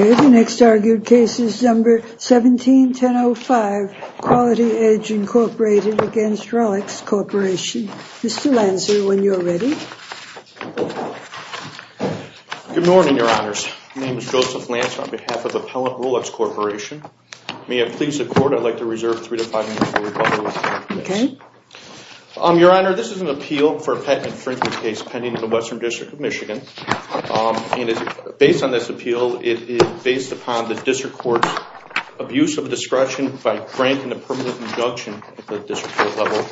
with the next argued case is number 171005, Quality Edge Incorporated against Rolex Corporation. Mr. Lancer, when you are ready. Good morning, your honors. My name is Joseph Lancer with Rolex Corporation. May it please the court, I'd like to reserve three to five minutes for rebuttal. Okay. Your honor, this is an appeal for a patent infringement case pending in the Western District of Michigan. Based on this appeal, it is based upon the district court's abuse of discretion by granting a permanent injunction at the district court level.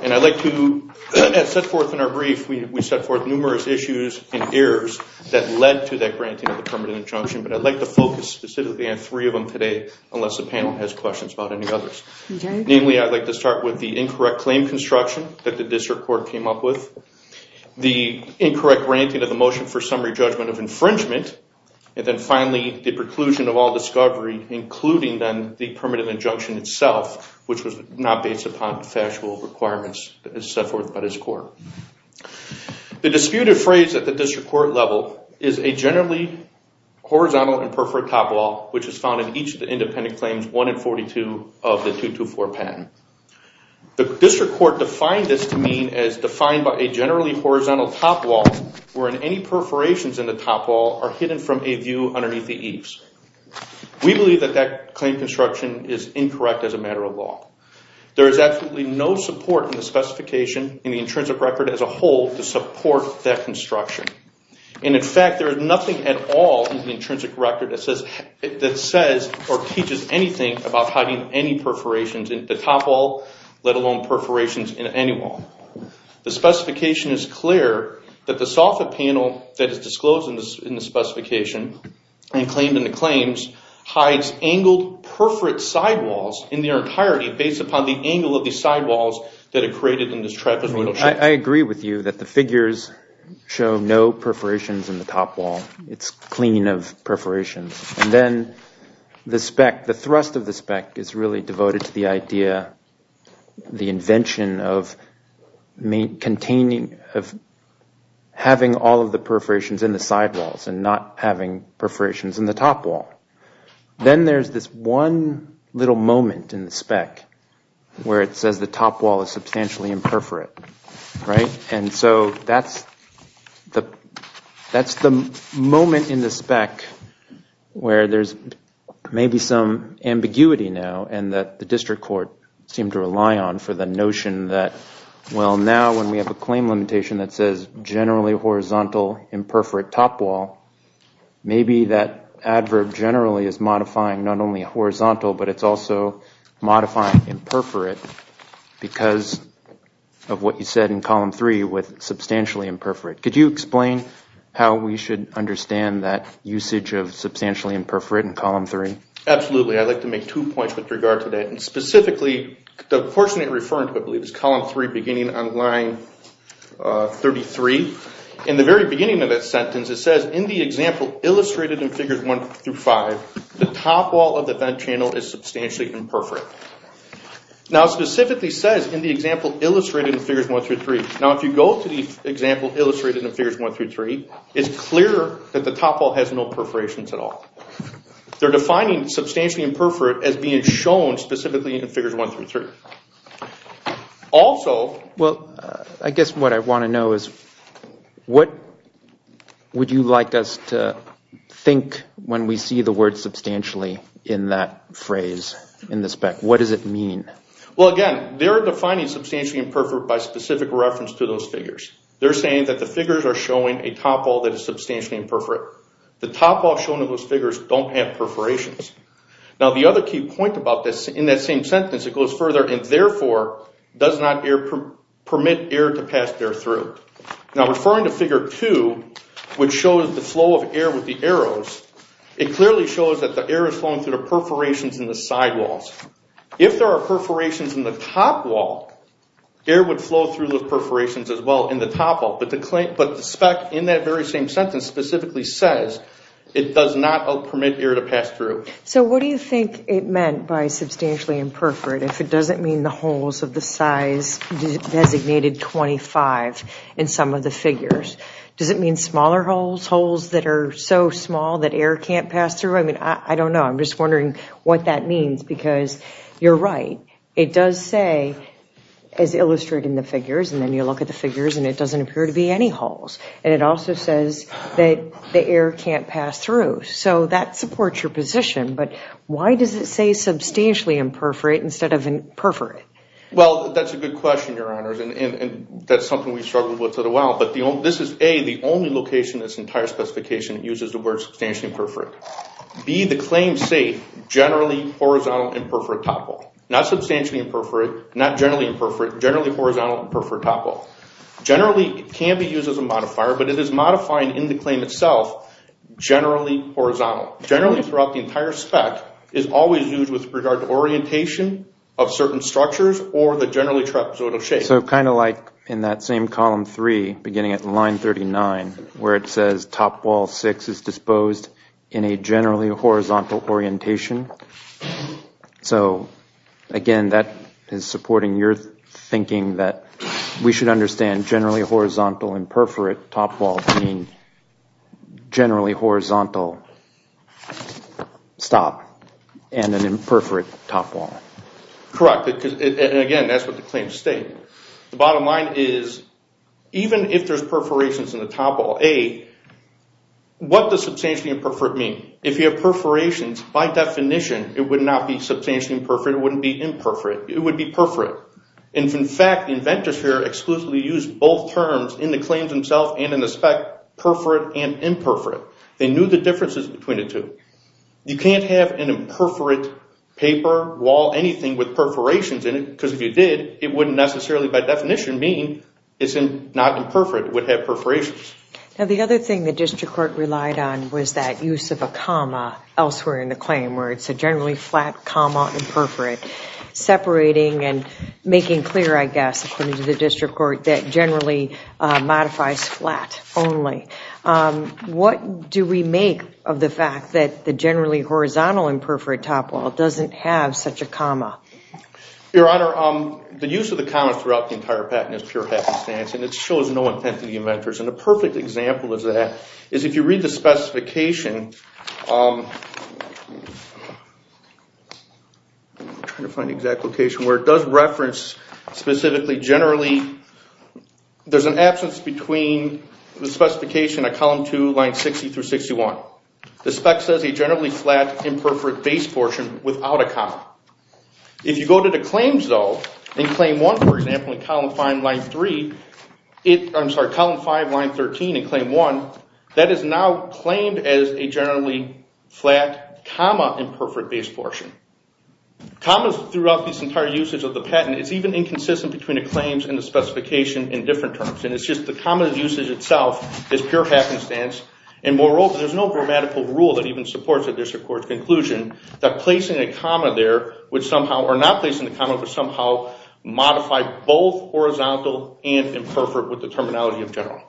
And I'd like to set forth in our brief, we set forth numerous issues and errors that led to that granting of the permanent injunction, but I'd like to focus specifically on three of them today, unless the panel has questions about any others. Namely, I'd like to start with the incorrect claim construction that the district court came up with, the incorrect granting of the motion for summary judgment of infringement, and then finally the preclusion of all discovery, including then the permanent injunction itself, which was not based upon factual requirements set forth by this court. The disputed phrase at the district court level is a generally horizontal and perforate top wall, which is found in each of the independent claims 1 and 42 of the 224 patent. The district court defined this to mean as defined by a generally horizontal top wall, wherein any perforations in the top wall are hidden from a view underneath the eaves. We believe that that claim construction is incorrect as a matter of law. There is absolutely no support in the specification, in the intrinsic record as a whole, to support that construction. In fact, there is nothing at all in the intrinsic record that says or teaches anything about hiding any perforations in the top wall, let alone perforations in any wall. The specification is clear that the soffit panel that is disclosed in the specification and claimed in the claims hides angled perforate side walls in their entirety based upon the angle of the side walls that are created in this trapezoidal shape. I agree with you that the figures show no perforations in the top wall. It's clean of perforations. And then the spec, the thrust of the spec is really devoted to the idea, the invention of containing, of having all of the perforations in the side walls and not having perforations in the top wall. Then there's this one little moment in the spec where it says the top wall is substantially imperforate. And so that's the moment in the spec where there's maybe some ambiguity now and that the district court seemed to rely on for the notion that, well, now when we have a claim limitation that says generally horizontal imperforate top wall, maybe that adverb generally is modifying not only horizontal but it's also modifying imperforate because of what you said in column three with substantially imperforate. Could you explain how we should understand that usage of substantially imperforate in column three? Absolutely. I'd like to make two points with regard to that. And specifically, the portion you're referring to, I believe, is column three beginning on line 33. In the very beginning of that sentence it says, in the example illustrated in figures one through five, the top wall of the vent channel is substantially imperforate. Now it specifically says in the example illustrated in figures one through three. Now if you go to the example illustrated in figures one through three, it's clear that the top wall has no perforations at all. They're defining substantially imperforate as being shown specifically in figures one through three. Also, I guess what I want to know is what would you like us to think when we see the word substantially in that phrase in the spec? What does it mean? Well, again, they're defining substantially imperforate by specific reference to those figures. They're saying that the figures are showing a top wall that is substantially imperforate. The top wall shown in those figures don't have perforations. Now the other key point about this, in that same sentence, it goes further and therefore does not permit air to pass there through. Now referring to figure two, which shows the flow of air with the perforations in the sidewalls. If there are perforations in the top wall, air would flow through the perforations as well in the top wall. But the spec in that very same sentence specifically says it does not permit air to pass through. So what do you think it meant by substantially imperforate if it doesn't mean the holes of the size designated 25 in some of the figures? Does it mean smaller holes, holes that are so small that air can't pass through? I mean, I don't know. I'm just wondering what that means because you're right. It does say, as illustrated in the figures, and then you look at the figures and it doesn't appear to be any holes. And it also says that the air can't pass through. So that supports your position. But why does it say substantially imperforate instead of imperforate? Well, that's a good question, Your Honors. And that's something we've struggled with for a while. But this is, A, the only location in this entire specification that uses the word substantially imperforate. B, the claim say generally horizontal imperforate top wall. Not substantially imperforate, not generally imperforate, generally horizontal imperforate top wall. Generally, it can be used as a modifier, but it is modifying in the claim itself generally horizontal. Generally, throughout the entire spec, it's always used with regard to orientation of certain structures or the generally trapezoidal shape. So kind of like in that same column 3, beginning at line 39, where it says top wall 6 is disposed in a generally horizontal orientation. So, again, that is supporting your thinking that we should understand generally horizontal imperforate top wall being generally horizontal stop, and an imperforate top wall. Correct. And again, that's what the claims state. The bottom line is even if there's perforations in the top wall, A, what does substantially imperforate mean? If you have perforations, by definition, it would not be substantially imperforate. It wouldn't be imperforate. It would be perforate. And in fact, the inventors here exclusively used both terms in the claims themselves and in the spec, perforate and imperforate. They can't have an imperforate paper wall, anything with perforations in it, because if you did, it wouldn't necessarily by definition mean it's not imperforate. It would have perforations. The other thing the district court relied on was that use of a comma elsewhere in the claim where it's a generally flat comma imperforate, separating and making clear, I guess, according to the district court, that generally modifies flat only. What do we make of the fact that the generally horizontal imperforate top wall doesn't have such a comma? Your Honor, the use of the commas throughout the entire patent is pure happenstance and it shows no intent to the inventors. And a perfect example of that is if you read the specification, I'm trying to find the exact location where it does reference specifically, generally, there's an absence between the specification at column 2, line 60-61. The generally flat imperforate base portion without a comma. If you go to the claims, though, in claim 1, for example, in column 5, line 13 in claim 1, that is now claimed as a generally flat comma imperforate base portion. Commas throughout this entire usage of the patent is even inconsistent between the claims and the specification in different terms. It's just the common usage itself is pure happenstance and moreover, there's no grammatical rule that even supports it. There's a court's conclusion that placing a comma there would somehow, or not placing a comma, but somehow modify both horizontal and imperforate with the terminology of general.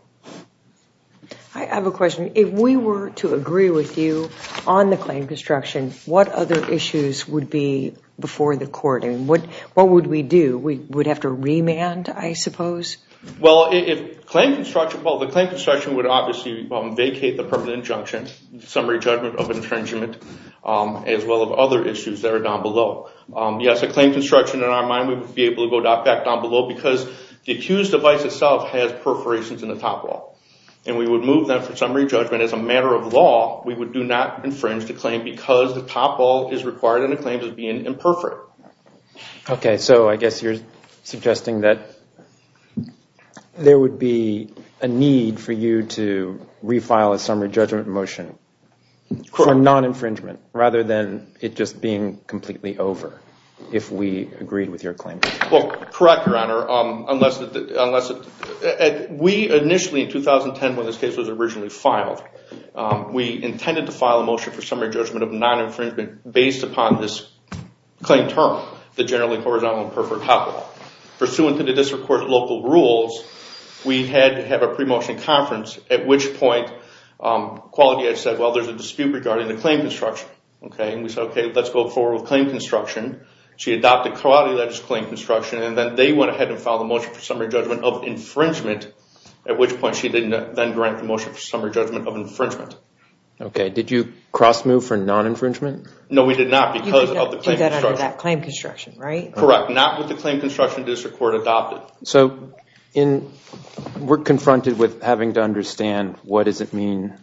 I have a question. If we were to agree with you on the claim construction, what other issues would be before the court? What would we do? We would have to remand, I suppose? Well, if claim construction, the claim construction would obviously vacate the permanent injunction, summary judgment of infringement, as well as other issues that are down below. Yes, a claim construction, in our mind, we would be able to go back down below because the accused device itself has perforations in the top wall. We would move that for summary judgment. As a matter of law, we would do not infringe the claim because the top wall is required in a claim as being imperforate. Okay, so I guess you're suggesting that there would be a need for you to refile a summary judgment motion for non-infringement rather than it just being completely over if we agreed with your claim? Well, correct, Your Honor. We initially, in 2010 when this case was originally filed, we intended to file a motion for summary judgment of non-infringement based upon this claim term, the Generally Horizontal Imperforate Top Wall. Pursuant to the district court's local rules, we had to have a pre-motion conference, at which point, Quality Edge said, well, there's a dispute regarding the claim construction. Okay, and we said, okay, let's go forward with claim construction. She adopted Quality Edge's claim construction and then they went ahead and filed a motion for summary judgment of infringement, at which point she then granted the motion for summary judgment of infringement. Okay, did you cross-move for non-infringement? No, we did not because of the claim construction. You did that under that claim construction, right? Correct, not with the claim construction district court adopted. So we're confronted with having to understand what does it mean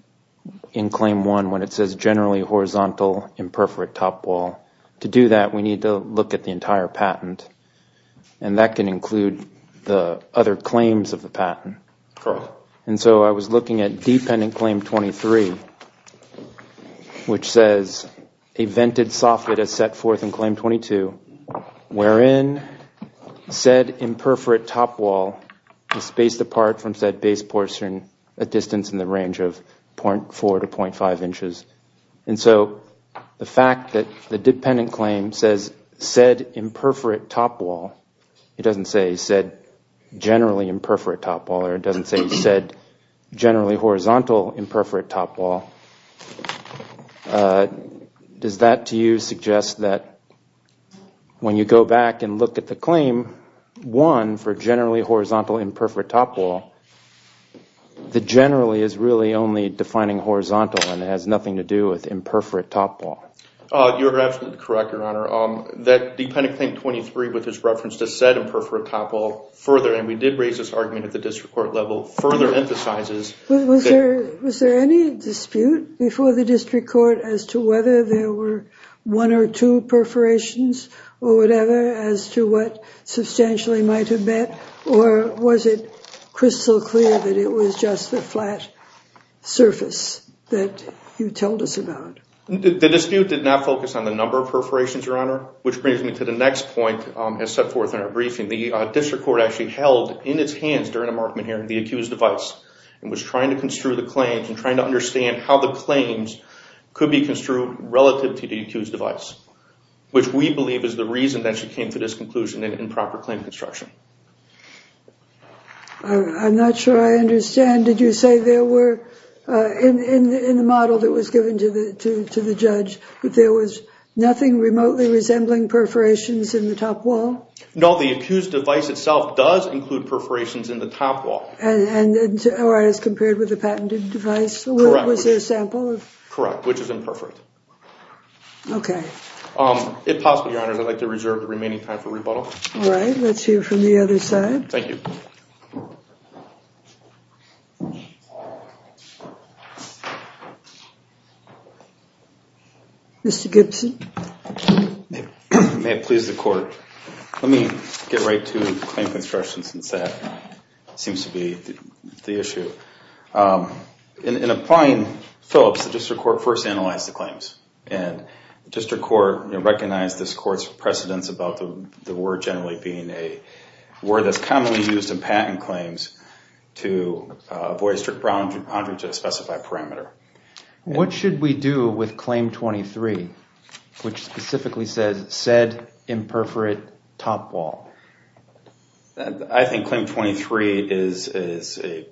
in Claim 1 when it says Generally Horizontal Imperforate Top Wall. To do that, we need to look at the entire And so I was looking at Dependent Claim 23, which says a vented soffit is set forth in Claim 22, wherein said imperforate top wall is spaced apart from said base portion a distance in the range of 0.4 to 0.5 inches. And so the fact that the dependent claim says said imperforate top wall, it doesn't say said generally imperforate top wall, or it doesn't say said generally horizontal imperforate top wall. Does that to you suggest that when you go back and look at the claim 1 for Generally Horizontal Imperforate Top Wall, the generally is really only defining horizontal and has nothing to do with imperforate top wall? You're absolutely correct, Your Honor. That dependent claim 23 with his reference to said imperforate top wall further, and we did raise this argument at the district court level, further emphasizes. Was there any dispute before the district court as to whether there were one or two perforations or whatever as to what substantially might have been? Or was it crystal clear that it was just the flat surface that you told us about? The dispute did not focus on the number of perforations, Your Honor, which brings me to the next point as set forth in our briefing. The district court actually held in its hands during the Markman hearing the accused device and was trying to construe the claims and trying to understand how the claims could be construed relative to the accused device, which we believe is the reason that she came to this conclusion in improper claim construction. I'm not sure I understand. Did you say there were, in the model that was given to the judge, that there was nothing remotely resembling perforations in the top wall? No, the accused device itself does include perforations in the top wall. And as compared with the patented device? Correct. Was there a sample? Correct, which is imperfect. Okay. If possible, Your Honor, I'd like to reserve the remaining time for rebuttal. All right, let's hear from the other side. Thank you. Mr. Gibson. May it please the court, let me get right to claim construction since that seems to be the issue. In applying Phillips, the district court first analyzed the claims and the district court recognized this court's precedence about the word generally being a word that's commonly used in patent claims to avoid a strict boundary to a specified parameter. What should we do with claim 23, which specifically says said imperfect top wall? I think claim 23 is a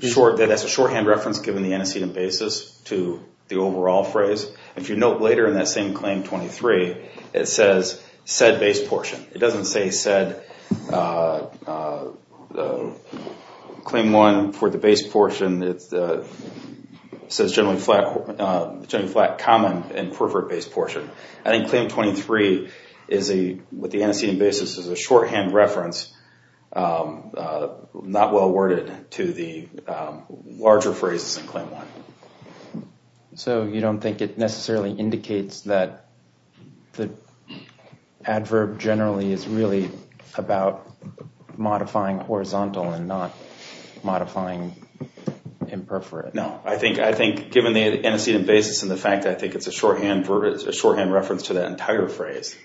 shorthand reference given the antecedent basis to the overall phrase. If you note later in that same claim 23, it says said base portion. It doesn't say said claim 1 for the base portion. It says generally flat common and pervert base portion. I think claim 23 is a, with the antecedent basis, is a shorthand reference, not well worded to the larger phrases in claim 1. So you don't think it necessarily indicates that the adverb generally is really about modifying horizontal and not modifying imperfect? No, I think given the antecedent basis and the fact that I think it's a shorthand reference to the entire phrase,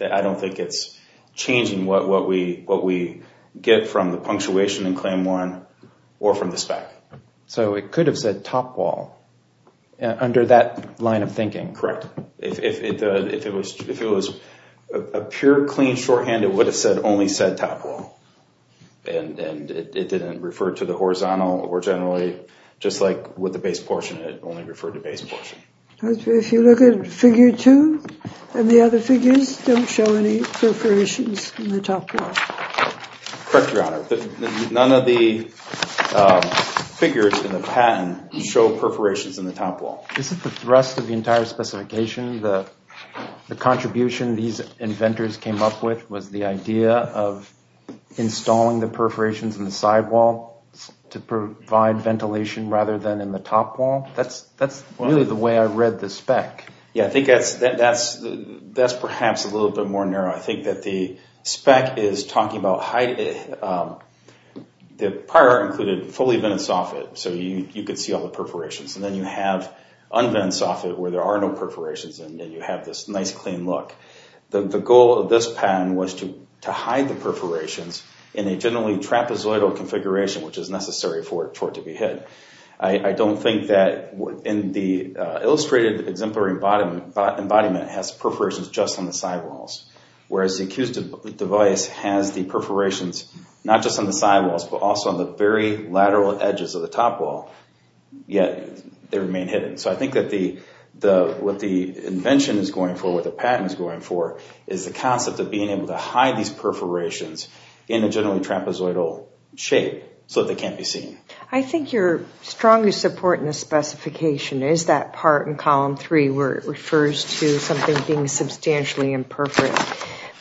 I don't think it's changing what we get from the punctuation in claim 1 or from the spec. So it could have said top wall under that line of thinking. Correct. If it was a pure, clean shorthand, it would have said only said top wall. And it didn't refer to the horizontal or generally, just like with the base portion, it only referred to base portion. If you look at figure 2 and the other figures, don't show any perforations in the top wall. Correct, Your Honor. None of the figures in the patent show perforations in the top wall. This is the thrust of the entire specification. The contribution these inventors came up with was the idea of installing the perforations in the side wall to provide ventilation rather than in the top wall. That's really the way I read the spec. Yeah, I think that's perhaps a little bit more narrow. I think that the spec is talking about the prior included fully vented soffit so you could see all the perforations. And then you have unvented soffit where there are no perforations and you have this nice, clean look. The goal of this patent was to hide the perforations in a generally trapezoidal configuration which is necessary for it to be hidden. I don't think that in the illustrated exemplary embodiment, it has perforations just on the side walls. Whereas the accused device has the perforations not just on the side walls but also on the very lateral edges of the top wall, yet they remain hidden. So I think that what the invention is going for, what the patent is going for, is the concept of being able to hide these perforations in a generally trapezoidal shape so that they can't be seen. I think your strongest support in the specification is that part in column 3 where it refers to something being substantially imperfect.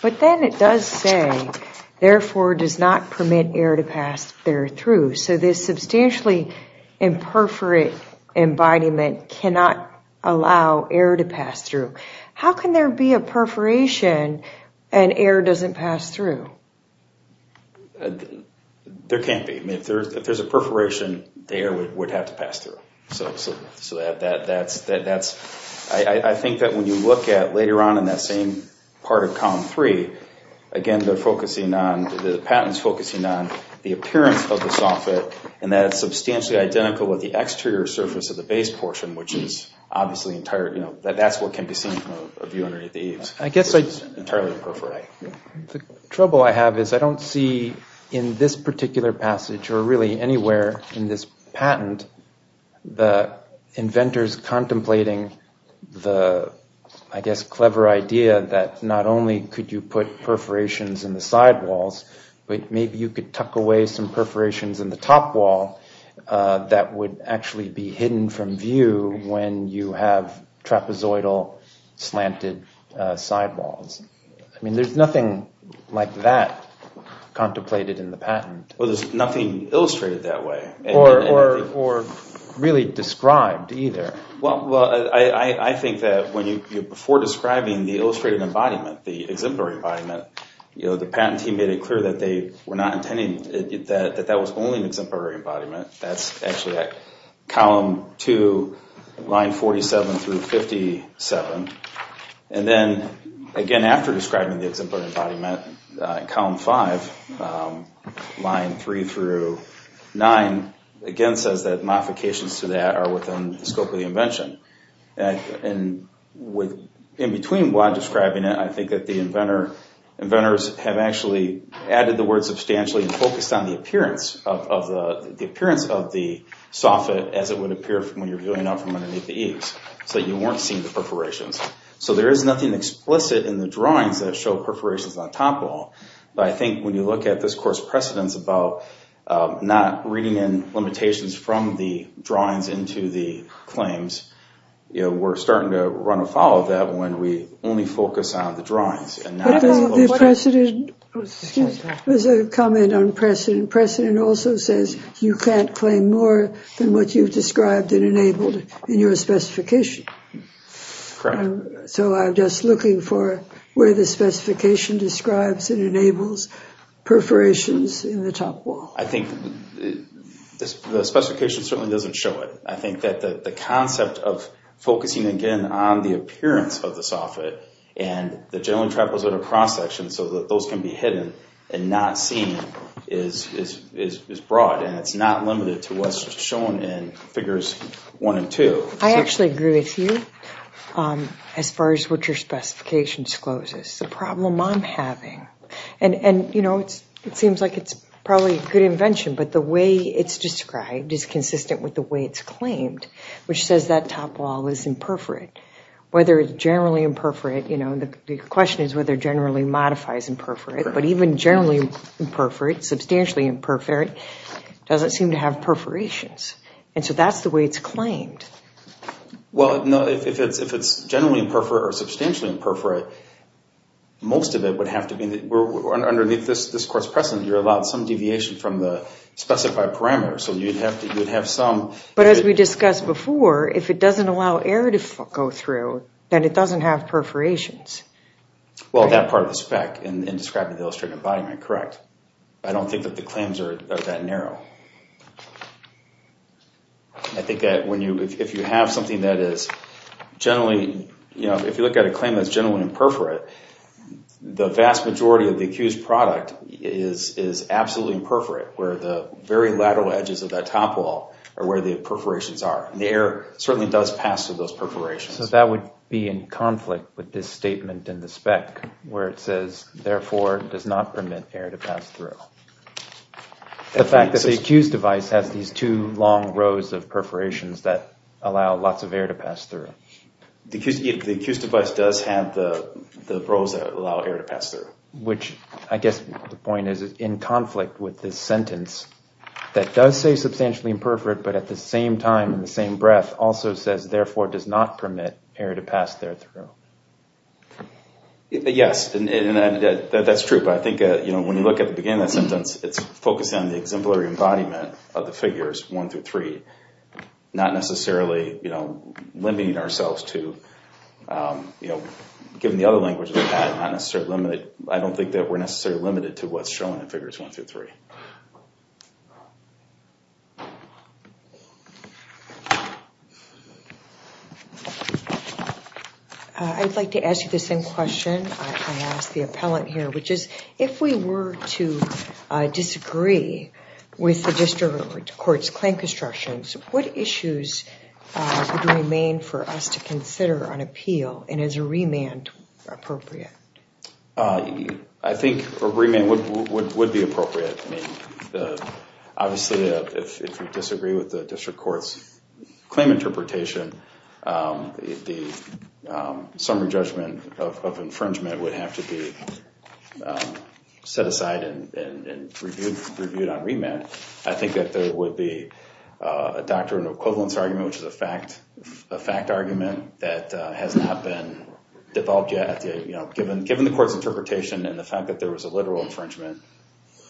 But then it does say, therefore does not permit air to pass through. So this substantially imperfect embodiment cannot allow air to pass through. How can there be a perforation and air doesn't pass through? There can't be. If there's a perforation, the air would have to pass through. So I think that when you look at later on in that same part of column 3, again the patent is focusing on the appearance of the soffit and that it's substantially identical with the exterior surface of the base portion, which is obviously, that's what can be seen from a view underneath the eaves. It's entirely imperfect. The trouble I have is I don't see in this particular passage or really anywhere in this patent, the inventors contemplating the clever idea that not only could you put perforations in the sidewalls, but maybe you could tuck away some perforations in the top wall that would actually be hidden from view when you have trapezoidal slanted sidewalls. There's nothing like that contemplated in the patent. Well, there's nothing illustrated that way. Or really described either. Well, I think that before describing the illustrated embodiment, the exemplary embodiment, the patent team made it clear that they were not intending that that was only an exemplary embodiment. That's actually at column 2, line 47 through 57. And then again after describing the exemplary embodiment, column 5, line 3 through 9, again says that modifications to that are within the scope of the invention. And in between while describing it, I think that the inventors have actually added the word substantially and focused on the appearance of the soffit as it would appear when you're viewing it from underneath the eaves. So you weren't seeing the perforations. So there is nothing explicit in the drawings that show perforations on top wall. But I think when you look at this course precedents about not reading in limitations from the drawings into the claims, we're starting to run afoul of that when we only focus on the drawings. But the precedent, there's a comment on precedent. Precedent also says you can't claim more than what you've described and enabled in your specification. Correct. So I'm just looking for where the specification describes and enables perforations in the top wall. I think the specification certainly doesn't show it. I think that the concept of focusing again on the appearance of the soffit and the generally trapezoidal cross-section so that those can be hidden and not seen is broad and it's not limited to what's shown in figures 1 and 2. I actually agree with you as far as what your specification discloses. It's a problem I'm having. And it seems like it's probably a good invention, but the way it's described is consistent with the way it's claimed, which says that top wall is imperforate. Whether it's generally imperforate, the question is whether generally modifies imperforate, but even generally imperforate, substantially imperforate, And so that's the way it's claimed. Well, no, if it's generally imperforate or substantially imperforate, most of it would have to be... Underneath this course precedent, you're allowed some deviation from the specified parameters, so you'd have some... But as we discussed before, if it doesn't allow air to go through, then it doesn't have perforations. Well, that part of the spec in describing the illustrative embodiment, correct. I don't think that the claims are that narrow. I think that if you have something that is generally... If you look at a claim that's generally imperforate, the vast majority of the accused product is absolutely imperforate, where the very lateral edges of that top wall are where the perforations are. And the air certainly does pass through those perforations. So that would be in conflict with this statement in the spec, where it says, therefore does not permit air to pass through. The fact that the accused device has these two long rows of perforations that allow lots of air to pass through. The accused device does have the rows that allow air to pass through. Which, I guess the point is, in conflict with this sentence that does say substantially imperforate, but at the same time, in the same breath, also says, therefore does not permit air to pass there through. Yes. And that's true. But I think when you look at the beginning of that sentence, it's focusing on the exemplary embodiment of the figures one through three. Not necessarily limiting ourselves to... Given the other languages of the patent, I don't think that we're necessarily limited to what's shown in figures one through three. I'd like to ask you the same question I asked the appellant here, which is, if we were to disagree with the district court's claim constructions, what issues would remain for us to consider on appeal? And is a remand appropriate? I think a remand would be appropriate. I mean, obviously, if we disagree with the district court's claim interpretation, the summary judgment of infringement would have to be set aside and reviewed on remand. I think that there would be a doctrine of equivalence argument, which is a fact argument that has not been developed yet. Given the court's interpretation and the fact that there was a literal infringement,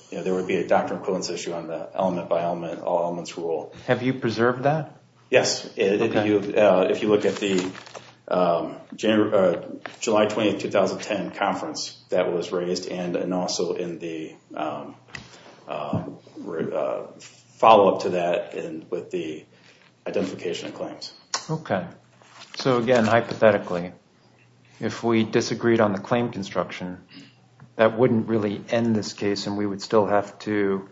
there would be a doctrine of equivalence issue on the element by element, all elements rule. Have you preserved that? Yes. If you look at the July 20, 2010 conference that was raised and also in the follow-up to that with the identification of claims. Okay. So again, hypothetically, if we disagreed on the claim construction, that wouldn't really end this case and we would still have to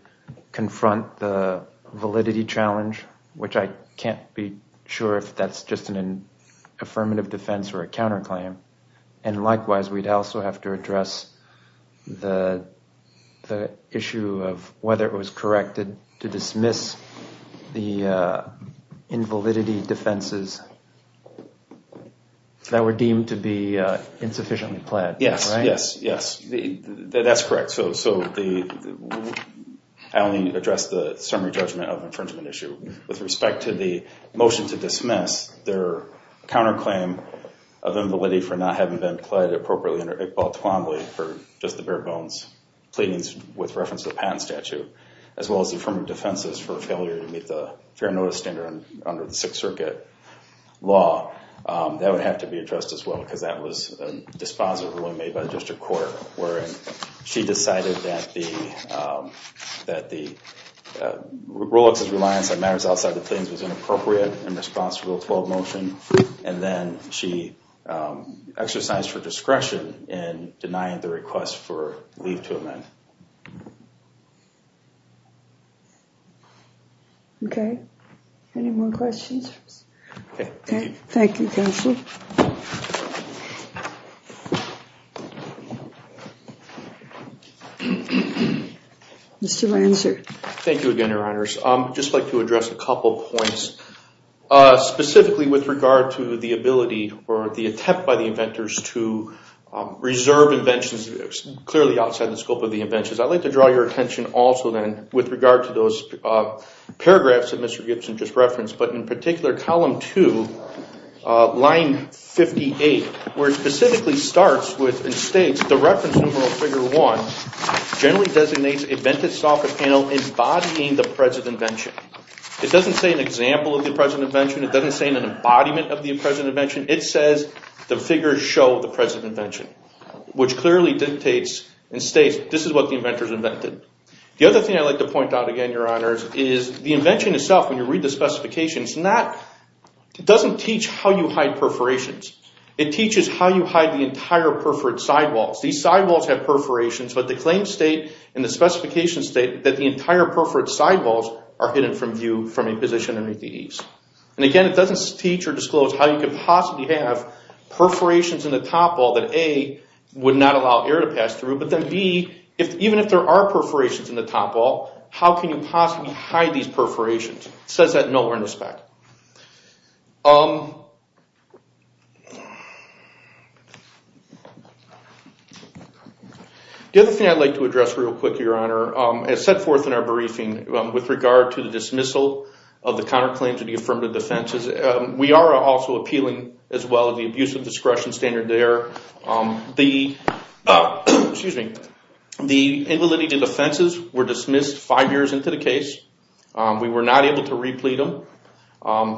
confront the validity challenge, which I can't be sure if that's just an affirmative defense or a counterclaim. And likewise, we'd also have to address the issue of whether it was correct to dismiss the invalidity defenses that were deemed to be insufficiently pled. Yes, yes, yes. That's correct. I only addressed the summary judgment of infringement issue. With respect to the motion to dismiss their counterclaim of invalidity for not having been pled appropriately under Iqbal Twombly for just the bare bones pleadings with reference to the patent statute, as well as affirmative defenses for failure to meet the fair notice standard under the Sixth Circuit law, that would have to be addressed as well because that was a dispositive ruling made by the district court where she decided that the that the Olex's reliance on matters outside the claims was inappropriate and responsible to a motion. And then she exercised her discretion in denying the request for leave to amend. Okay. Any more questions? Okay. Thank you, counsel. Mr. Ranser. Thank you again, Your Honors. I'd just like to address a couple points specifically with regard to the ability or the attempt by the inventors to reserve inventions clearly outside the scope of the inventions. I'd like to draw your attention also then with regard to those paragraphs that Mr. Gibson just referenced, but in particular column two, line 58, where it specifically starts and states the reference number of figure one generally designates a vented software panel embodying the present invention. It doesn't say an example of the present invention. It doesn't say an embodiment of the present invention. It says the figures show the present invention, which clearly dictates and states this is what the inventors invented. The other thing I'd like to point out again, Your Honors, is the invention itself, when you read the specifications, they claim state and the specifications state that the entire perforate sidewalls are hidden from view from a position underneath the eaves. Again, it doesn't teach or disclose how you could possibly have perforations in the topwall that A, would not allow air to pass through, but then B, even if there are perforations in the topwall, how can you possibly hide these perforations? It says that nowhere in the spec. The other thing I'd like to address real quick, Your Honor, as set forth in our briefing with regard to the dismissal of the counterclaims of the affirmative defenses, we are also appealing as well the abuse of discretion standard there. The invalidated defenses were dismissed five years into the case. We were not able to replete them.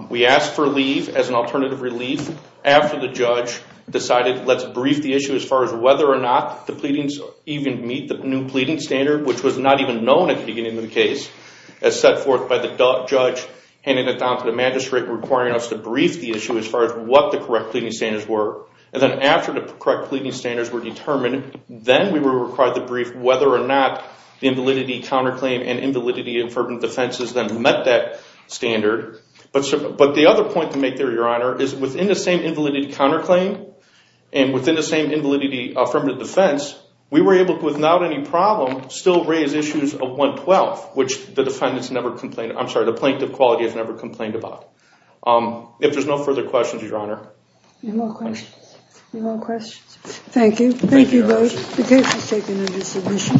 We asked for leave as an alternative relief after the judge decided let's brief the issue with a new pleading standard which was not even known at the beginning of the case as set forth by the judge handing it down to the magistrate requiring us to brief the issue as far as what the correct pleading standards were. And then after the correct pleading standards were determined, then we were required to brief whether or not the invalidity counterclaim and invalidity affirmative defenses then met that standard. But the other point to make there, Your Honor, is within the same invalidity counterclaim the plaintiff quality problem still raised issues of 112 which the plaintiff quality has never complained about. If there's no further questions, Your Honor. Any more questions? Thank you. Thank you both. The case is taken under submission.